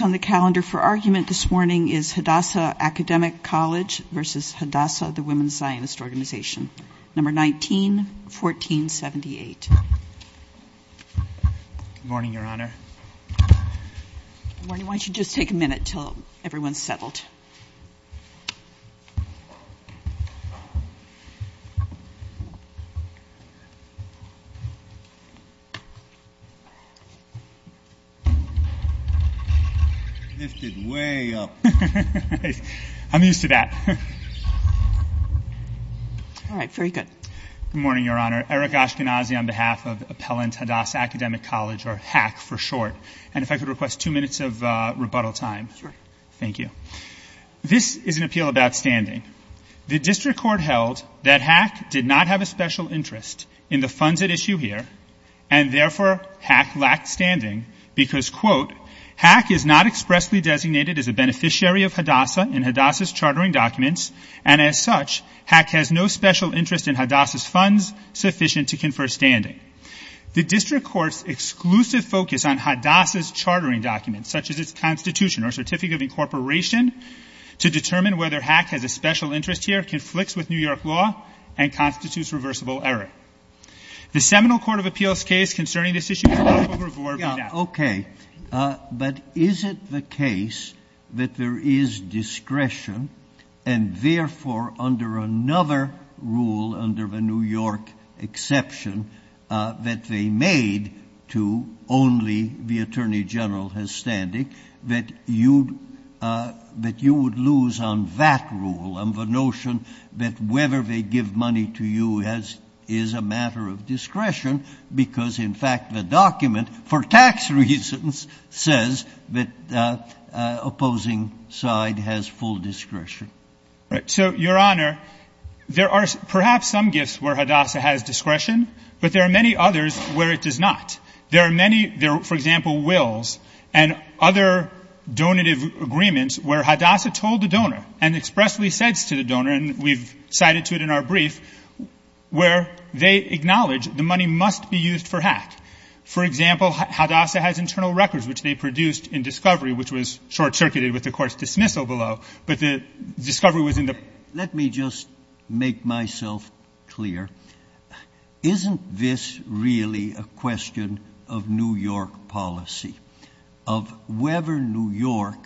hadassah, the Women's Zionist Organization, No. 19-1478. Good morning, Your Honor. Good morning. Why don't you just take a minute until everyone's settled. Lift it way up. I'm used to that. All right. Very good. Good morning, Your Honor. Eric Ashkenazi on behalf of Appellant Hadassah Academic College, or HACC for short. And if I could request two minutes of rebuttal time. Sure. Thank you. This is an appeal about standing. The district court held that HACC did not have a special interest in the funds at issue here, and therefore HACC lacked standing because, quote, HACC is not expressly designated as a beneficiary of Hadassah in Hadassah's chartering documents, and as such, HACC has no special interest in Hadassah's funds sufficient to confer standing. The district court's exclusive focus on Hadassah's chartering documents, such as its Constitution or Certificate of Incorporation, to determine whether HACC has a special interest here conflicts with New York law and constitutes reversible error. The Seminole Court of Appeals case concerning this issue is not overboard. Okay. But is it the case that there is discretion and, therefore, under another rule under the New York exception that they made to only the attorney general has standing, that you would lose on that rule on the notion that whether they give money to you is a matter of discretion, because, in fact, the document for tax reasons says that the opposing side has full discretion? So, Your Honor, there are perhaps some gifts where Hadassah has discretion, but there are many others where it does not. There are many, for example, wills and other donative agreements where Hadassah told the donor and expressly said to the donor, and we've cited to it in our brief, where they acknowledge the money must be used for HACC. For example, Hadassah has internal records, which they produced in discovery, which was short-circuited with the Court's dismissal below, but the discovery was in the ---- Let me just make myself clear. Isn't this really a question of New York policy, of whether New York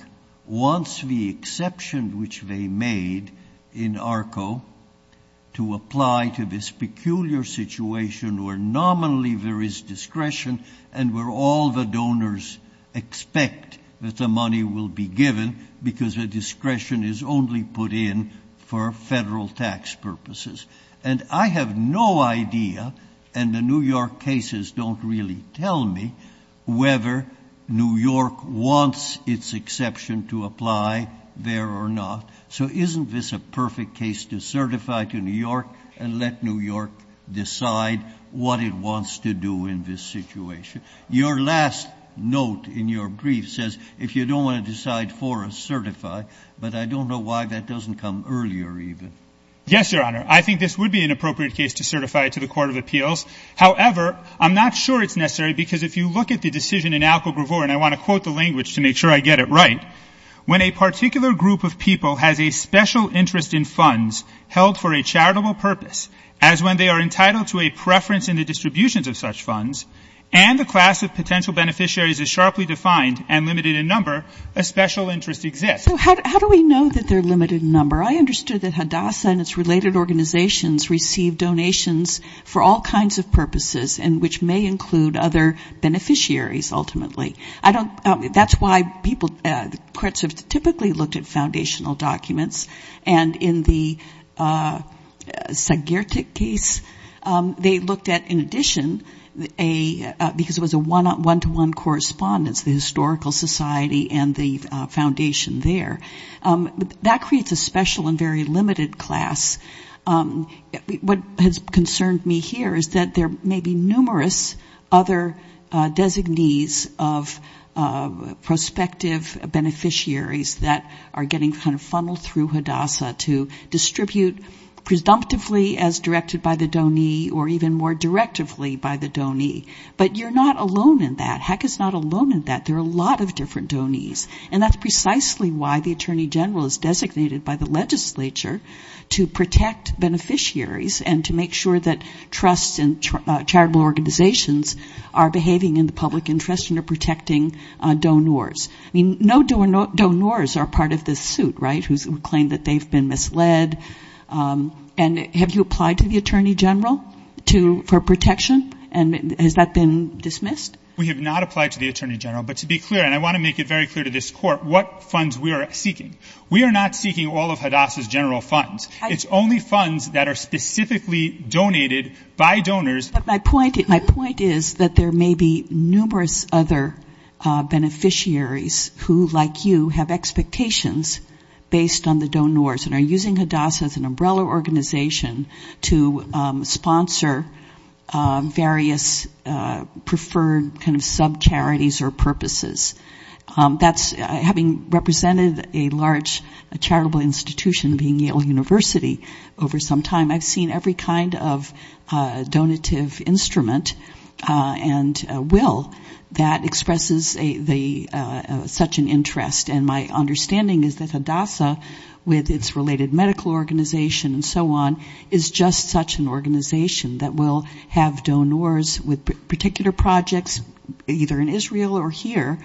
wants the exception which they made in ARCO to apply to this peculiar situation where nominally there is discretion and where all the donors expect that the money will be given because the discretion is only put in for federal tax purposes? And I have no idea, and the New York cases don't really tell me, whether New York wants its exception to apply there or not. So isn't this a perfect case to certify to New York and let New York decide what it wants to do in this situation? Your last note in your brief says, if you don't want to decide for us, certify, but I don't know why that doesn't come earlier even. Yes, Your Honor. I think this would be an appropriate case to certify to the Court of Appeals. However, I'm not sure it's necessary because if you look at the decision in ARCO Bravor, and I want to quote the language to make sure I get it right, when a particular group of people has a special interest in funds held for a charitable purpose, as when they are entitled to a preference in the distributions of such funds, and the class of potential beneficiaries is sharply defined and limited in number, a special interest exists. So how do we know that they're limited in number? I understood that Hadassah and its related organizations receive donations for all kinds of purposes, and which may include other beneficiaries ultimately. That's why people, courts have typically looked at foundational documents, and in the Zagirtic case, they looked at, in addition, because it was a one-to-one correspondence, the historical society and the foundation there. That creates a special and very limited class. What has concerned me here is that there may be numerous other designees of prospective beneficiaries that are getting kind of funneled through Hadassah to distribute presumptively as directed by the donee or even more directively by the donee. But you're not alone in that. HEC is not alone in that. There are a lot of different donees. And that's precisely why the attorney general is designated by the legislature to protect beneficiaries and to make sure that trusts and charitable organizations are behaving in the public interest and are protecting donors. I mean, no donors are part of this suit, right, who claim that they've been misled. And have you applied to the attorney general for protection? And has that been dismissed? We have not applied to the attorney general. But to be clear, and I want to make it very clear to this court, what funds we are seeking. We are not seeking all of Hadassah's general funds. It's only funds that are specifically donated by donors. But my point is that there may be numerous other beneficiaries who, like you, have expectations based on the donors and are using Hadassah as an umbrella organization to sponsor various preferred kind of subcharities or purposes. That's having represented a large charitable institution being Yale University over some time, I've seen every kind of donative instrument and will that expresses such an interest. And my understanding is that Hadassah, with its related medical organization and so on, is just such an organization that will have donors with particular projects, either in Israel or here,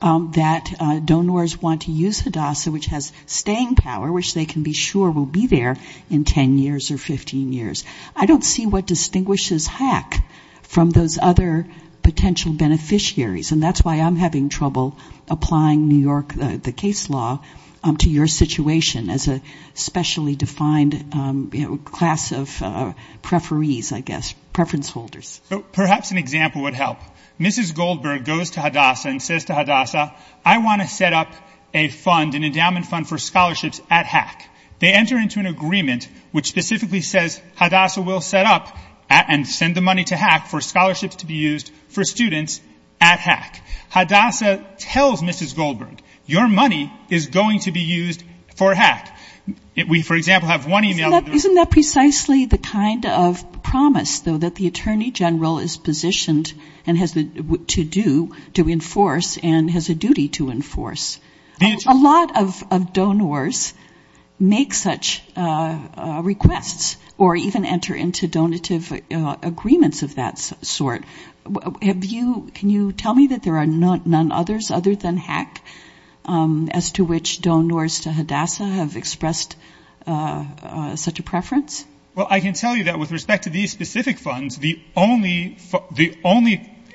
that donors want to use Hadassah, which has staying power, which they can be sure will be there in 10 years or 15 years. I don't see what distinguishes HAC from those other potential beneficiaries. And that's why I'm having trouble applying New York, the case law, to your situation as a specially defined class of preferees, I guess, preference holders. So perhaps an example would help. Mrs. Goldberg goes to Hadassah and says to Hadassah, I want to set up a fund, an endowment fund for scholarships at HAC. They enter into an agreement which specifically says Hadassah will set up and send the money to HAC for scholarships to be used for students at HAC. Hadassah tells Mrs. Goldberg, your money is going to be used for HAC. We, for example, have one email. Isn't that precisely the kind of promise, though, that the Attorney General is positioned to do, to enforce and has a duty to enforce? A lot of donors make such requests or even enter into donative agreements of that sort. Have you, can you tell me that there are none others other than HAC as to which donors to Hadassah have expressed such a preference? Well, I can tell you that with respect to these specific funds, the only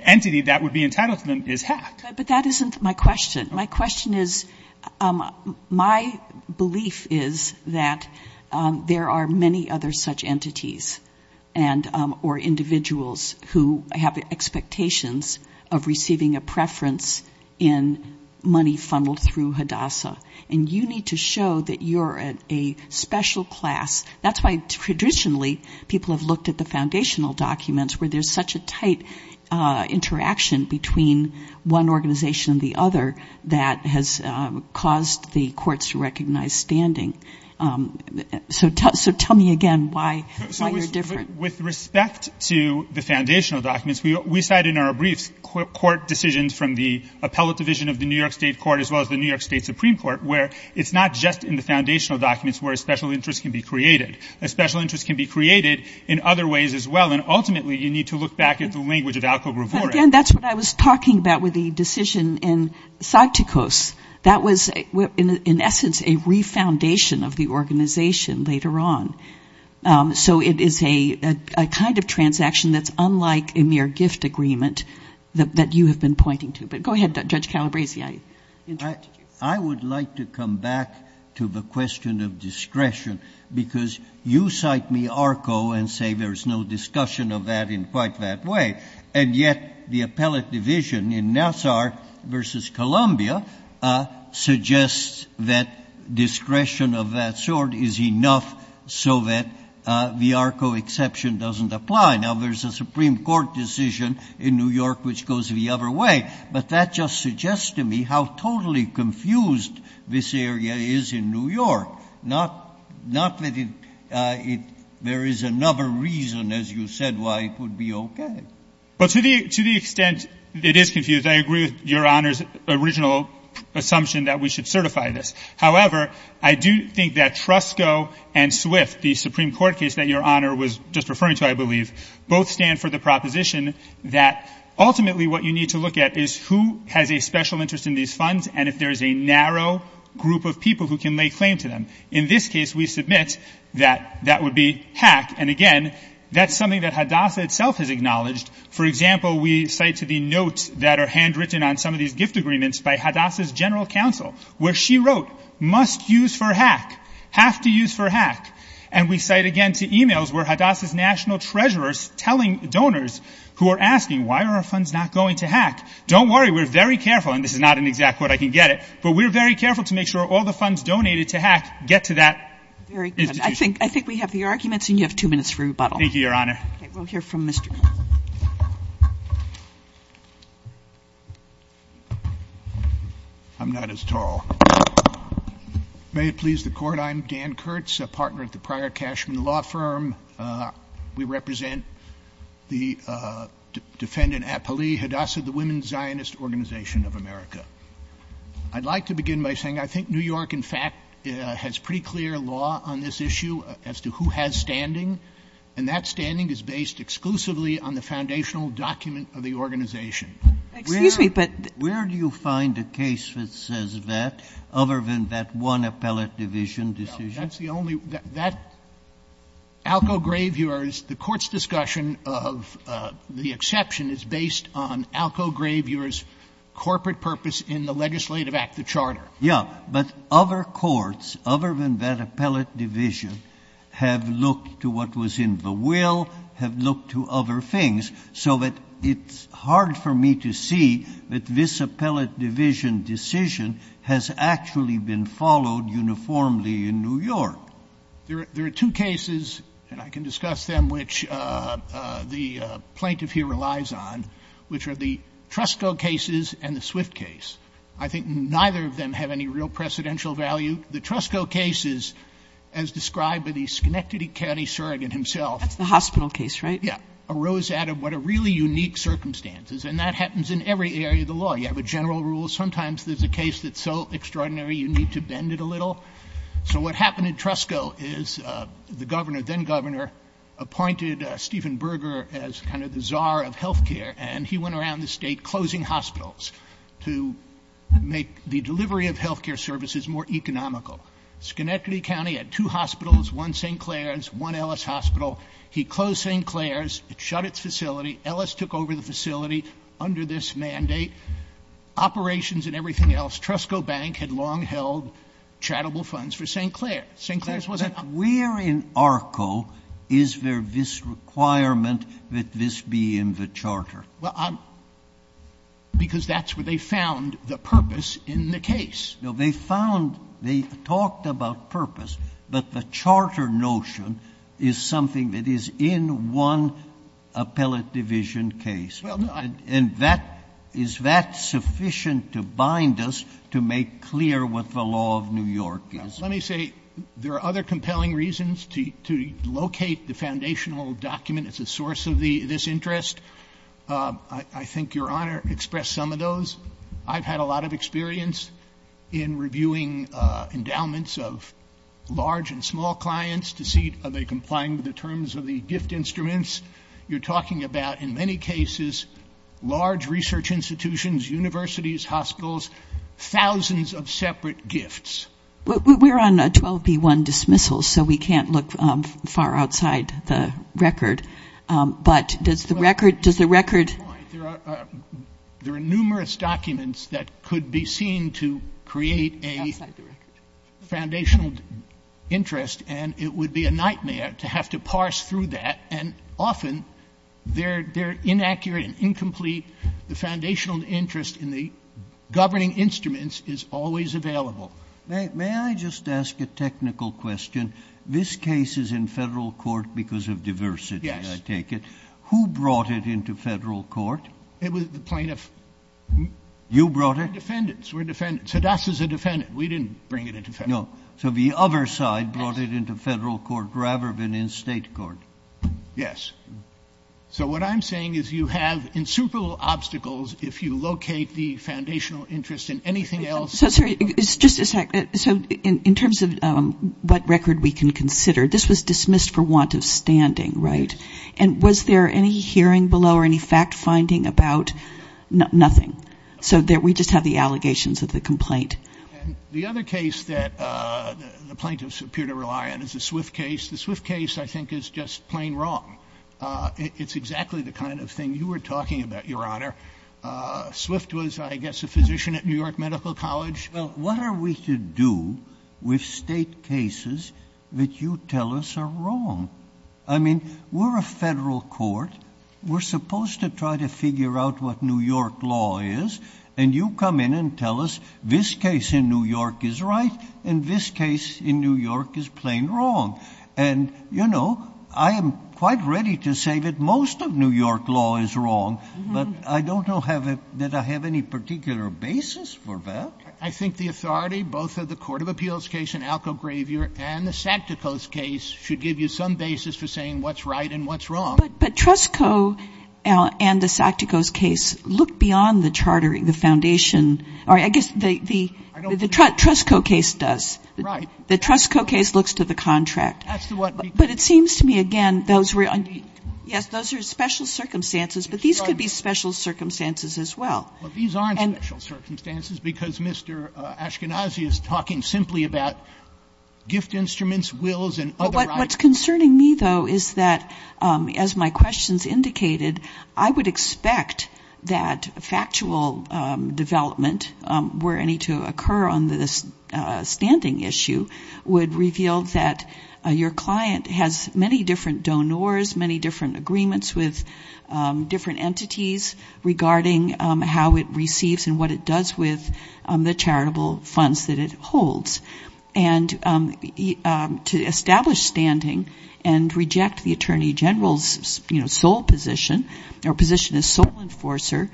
entity that would be entitled to them is HAC. But that isn't my question. My question is, my belief is that there are many other such entities or individuals who have expectations of receiving a preference in money funneled through Hadassah. And you need to show that you're a special class. That's why traditionally people have looked at the foundational documents where there's such a tight interaction between one organization and the other that has caused the courts to recognize standing. So tell me again why you're different. With respect to the foundational documents, we cite in our briefs court decisions from the appellate division of the New York State Court as well as the New York State Supreme Court, where it's not just in the foundational documents where a special interest can be created. A special interest can be created in other ways as well. And ultimately you need to look back at the language of Alko Gravore. And, again, that's what I was talking about with the decision in Sagtikos. That was, in essence, a refoundation of the organization later on. So it is a kind of transaction that's unlike a mere gift agreement that you have been pointing to. But go ahead, Judge Calabresi. I would like to come back to the question of discretion, because you cite me Arko and say there's no discussion of that in quite that way. And yet the appellate division in Nassar v. Columbia suggests that discretion of that sort is enough so that the Arko exception doesn't apply. Now, there's a Supreme Court decision in New York which goes the other way. But that just suggests to me how totally confused this area is in New York. Not that there is another reason, as you said, why it would be okay. But to the extent it is confused, I agree with Your Honor's original assumption that we should certify this. However, I do think that Trusco and Swift, the Supreme Court case that Your Honor was just referring to, I believe, both stand for the proposition that ultimately what you need to look at is who has a special interest in these funds and if there is a narrow group of people who can lay claim to them. In this case, we submit that that would be hack. And, again, that's something that Hadassah itself has acknowledged. For example, we cite to the notes that are handwritten on some of these gift agreements by Hadassah's general counsel, where she wrote, must use for hack, have to use for hack. And we cite again to e-mails where Hadassah's national treasurers telling donors who are asking, why are our funds not going to hack, don't worry, we're very careful, and this is not an exact quote, I can get it, but we're very careful to make sure all the funds donated to hack get to that institution. Very good. I think we have the arguments and you have two minutes for rebuttal. Thank you, Your Honor. Okay, we'll hear from Mr. Knuth. I'm not as tall. May it please the Court, I'm Dan Kurtz, a partner at the Prior Cashman Law Firm. We represent the defendant, Apolli Hadassah, the Women's Zionist Organization of America. I'd like to begin by saying I think New York, in fact, has pretty clear law on this issue as to who has standing, and that standing is based exclusively on the foundational document of the organization. Where do you find a case that says that, other than that one appellate division decision? That's the only one. That Alco Graveyards, the Court's discussion of the exception, is based on Alco Graveyards' corporate purpose in the legislative act, the charter. Yeah, but other courts, other than that appellate division, have looked to what was in the will, have looked to other things, so that it's hard for me to see that this appellate division decision has actually been followed uniformly in New York. There are two cases, and I can discuss them, which the plaintiff here relies on, which are the Trusco cases and the Swift case. I think neither of them have any real precedential value. The Trusco cases, as described by the Schenectady County surrogate himself. That's the hospital case, right? Yeah. Arose out of what are really unique circumstances, and that happens in every area of the law. You have a general rule. Sometimes there's a case that's so extraordinary you need to bend it a little. So what happened in Trusco is the governor, then governor, appointed Stephen Berger as kind of the czar of health care, and he went around the state closing hospitals to make the delivery of health care services more economical. Schenectady County had two hospitals, one St. Clair's, one Ellis Hospital. He closed St. Clair's. It shut its facility. Ellis took over the facility under this mandate. Operations and everything else. Trusco Bank had long held charitable funds for St. Clair. St. Clair's wasn't up. Where in ARCO is there this requirement that this be in the charter? Well, because that's where they found the purpose in the case. No, they found, they talked about purpose, but the charter notion is something that is in one appellate division case. And that, is that sufficient to bind us to make clear what the law of New York is? Let me say, there are other compelling reasons to locate the foundational document as a source of this interest. I think Your Honor expressed some of those. I've had a lot of experience in reviewing endowments of large and small clients to see are they complying with the terms of the gift instruments. You're talking about, in many cases, large research institutions, universities, hospitals, thousands of separate gifts. We're on a 12B1 dismissal, so we can't look far outside the record, but does the record There are numerous documents that could be seen to create a foundational interest, and it would be a nightmare to have to parse through that. And often, they're inaccurate and incomplete. The foundational interest in the governing instruments is always available. May I just ask a technical question? This case is in Federal court because of diversity, I take it. Yes. Who brought it into Federal court? It was the plaintiff. You brought it? We're defendants. We're defendants. Hadassah's a defendant. We didn't bring it into Federal court. No. So the other side brought it into Federal court rather than in State court. Yes. So what I'm saying is you have insuperable obstacles if you locate the foundational interest in anything else. So, sorry. Just a second. So in terms of what record we can consider, this was dismissed for want of standing, right? Yes. And was there any hearing below or any fact-finding about nothing? So we just have the allegations of the complaint. And the other case that the plaintiffs appear to rely on is the Swift case. The Swift case, I think, is just plain wrong. It's exactly the kind of thing you were talking about, Your Honor. Swift was, I guess, a physician at New York Medical College. Well, what are we to do with State cases that you tell us are wrong? I mean, we're a Federal court. We're supposed to try to figure out what New York law is. And you come in and tell us this case in New York is right and this case in New York is plain wrong. And, you know, I am quite ready to say that most of New York law is wrong, but I don't know that I have any particular basis for that. I think the authority, both of the Court of Appeals case in Alco Graveyard and the SACTICOS case, I don't have any particular basis for saying what's right and what's wrong. But Trusco and the SACTICOS case look beyond the chartering, the foundation or I guess the Trusco case does. Right. The Trusco case looks to the contract. But it seems to me, again, those were, yes, those are special circumstances, but these could be special circumstances as well. Well, these aren't special circumstances because Mr. Ashkenazi is talking simply about gift instruments, wills and other items. What's concerning me, though, is that as my questions indicated, I would expect that factual development were any to occur on this standing issue would reveal that your client has many different donors, many different agreements with different entities regarding how it receives and what it does with the charitable funds that it holds. And to establish standing and reject the Attorney General's sole position or position as sole enforcer,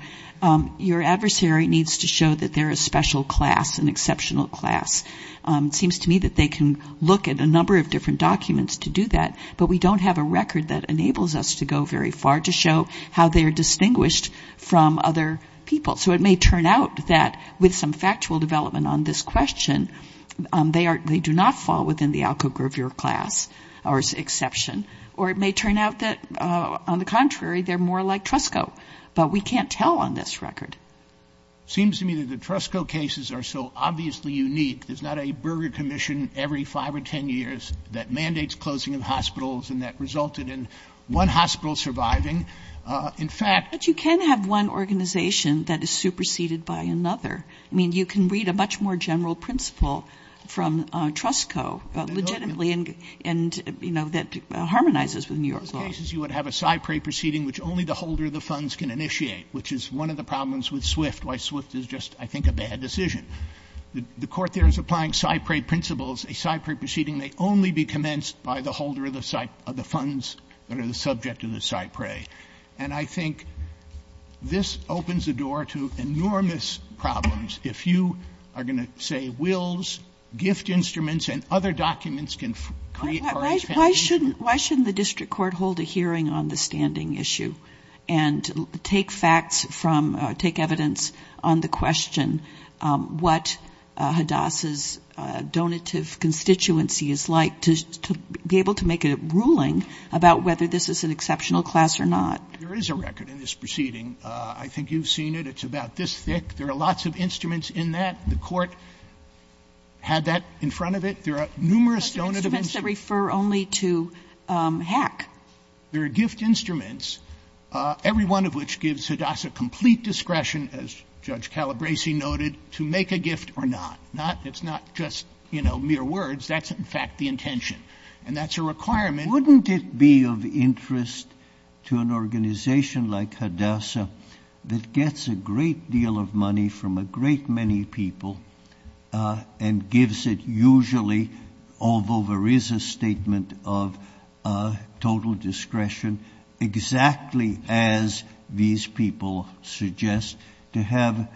your adversary needs to show that they're a special class, an exceptional class. It seems to me that they can look at a number of different documents to do that, but we don't have a record that enables us to go very far to show how they're distinguished from other people. So it may turn out that with some factual development on this question, they do not fall within the Alcoa-Grover class or exception. Or it may turn out that, on the contrary, they're more like Trusco. But we can't tell on this record. It seems to me that the Trusco cases are so obviously unique. There's not a burger commission every 5 or 10 years that mandates closing of hospitals and that resulted in one hospital surviving. In fact — But you can have one organization that is superseded by another. I mean, you can read a much more general principle from Trusco legitimately and, you know, that harmonizes with New York law. In those cases, you would have a cypre proceeding which only the holder of the funds can initiate, which is one of the problems with Swift, why Swift is just, I think, a bad decision. The court there is applying cypre principles. A cypre proceeding may only be commenced by the holder of the funds that are the subject of the cypre. And I think this opens the door to enormous problems. If you are going to say wills, gift instruments, and other documents can create or expand the issue. Why shouldn't the district court hold a hearing on the standing issue and take facts from, take evidence on the question what Hadassah's donative constituency is like to be able to make a ruling about whether this is an exceptional class or not. There is a record in this proceeding. I think you've seen it. It's about this thick. There are lots of instruments in that. The court had that in front of it. There are numerous donative instruments. Those are instruments that refer only to hack. There are gift instruments, every one of which gives Hadassah complete discretion, as Judge Calabresi noted, to make a gift or not. It's not just mere words. That's, in fact, the intention. And that's a requirement. Wouldn't it be of interest to an organization like Hadassah that gets a great deal of money from a great many people and gives it usually, although there is a statement of total discretion, exactly as these people suggest, to have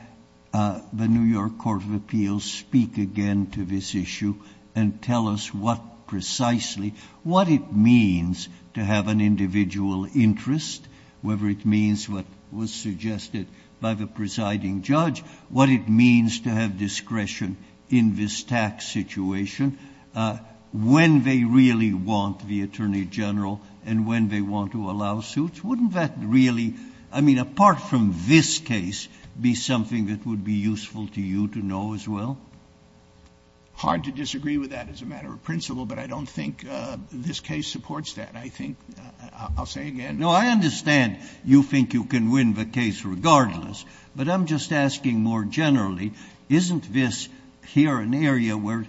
the New York Court of Appeals speak again to this issue and tell us what precisely, what it means to have an individual interest, whether it means what was suggested by the presiding judge, what it means to have discretion in this tax situation, when they really want the attorney general and when they want to allow suits? Wouldn't that really, I mean, apart from this case, be something that would be useful to you to know as well? Hard to disagree with that as a matter of principle, but I don't think this case supports that. I think, I'll say again. No, I understand you think you can win the case regardless, but I'm just asking more generally, isn't this here an area where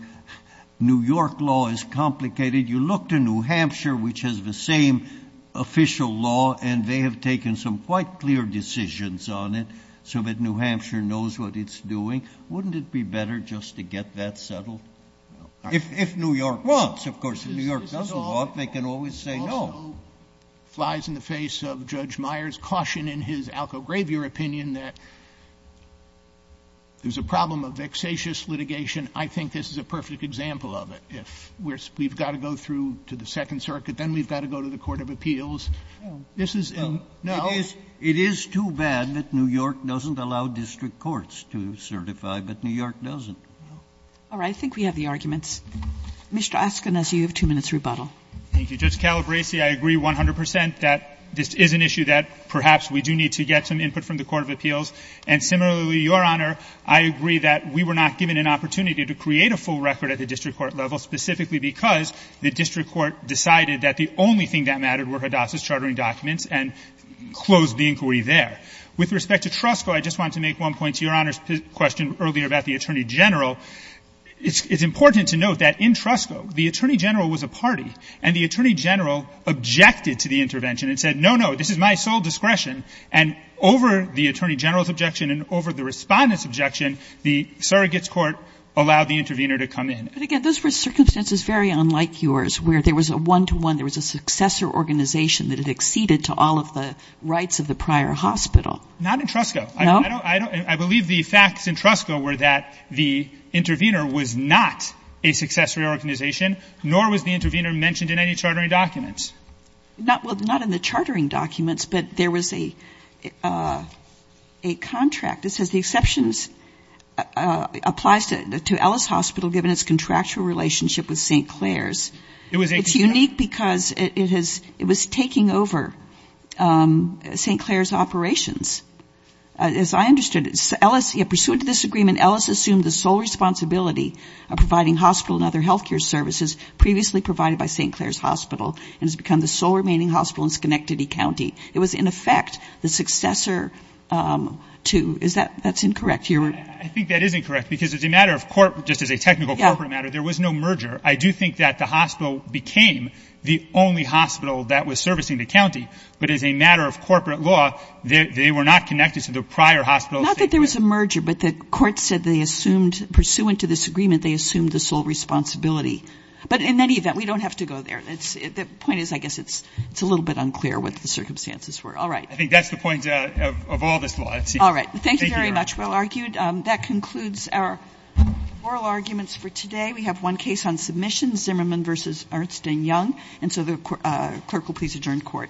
New York law is complicated? You look to New Hampshire, which has the same official law, and they have taken some quite clear decisions on it so that New Hampshire knows what it's doing. Wouldn't it be better just to get that settled? If New York wants, of course. If New York doesn't want, they can always say no. So flies in the face of Judge Meyers' caution in his Alco-Gravier opinion that there's a problem of vexatious litigation. I think this is a perfect example of it. If we've got to go through to the Second Circuit, then we've got to go to the court of appeals. This is a no? It is too bad that New York doesn't allow district courts to certify, but New York doesn't. All right. I think we have the arguments. Mr. Askin, as you have two minutes rebuttal. Thank you. Judge Calabresi, I agree 100 percent that this is an issue that perhaps we do need to get some input from the court of appeals. And similarly, Your Honor, I agree that we were not given an opportunity to create a full record at the district court level specifically because the district court decided that the only thing that mattered were Hadassah's chartering documents and closed the inquiry there. With respect to Trusco, I just wanted to make one point to Your Honor's question earlier about the attorney general. It's important to note that in Trusco, the attorney general was a party, and the attorney general objected to the intervention and said, no, no, this is my sole discretion. And over the attorney general's objection and over the respondent's objection, the surrogate's court allowed the intervener to come in. But again, those were circumstances very unlike yours where there was a one-to-one, there was a successor organization that had acceded to all of the rights of the prior hospital. Not in Trusco. No? I believe the facts in Trusco were that the intervener was not a successor organization, nor was the intervener mentioned in any chartering documents. Well, not in the chartering documents, but there was a contract that says the exceptions applies to Ellis Hospital given its contractual relationship with St. Clair's. It was a contract. It's unique because it was taking over St. Clair's operations. As I understood it, Ellis, in pursuit of this agreement, Ellis assumed the sole responsibility of providing hospital and other health care services previously provided by St. Clair's Hospital and has become the sole remaining hospital in Schenectady County. It was, in effect, the successor to, is that, that's incorrect? I think that is incorrect because as a matter of court, just as a technical corporate matter, there was no merger. I do think that the hospital became the only hospital that was servicing the county. But as a matter of corporate law, they were not connected to the prior hospital of St. Clair's. There was a merger, but the court said they assumed, pursuant to this agreement, they assumed the sole responsibility. But in any event, we don't have to go there. The point is I guess it's a little bit unclear what the circumstances were. All right. I think that's the point of all this law. All right. Thank you very much. Well argued. That concludes our oral arguments for today. We have one case on submission, Zimmerman v. Ernst & Young. And so the clerk will please adjourn court. Court is adjourned.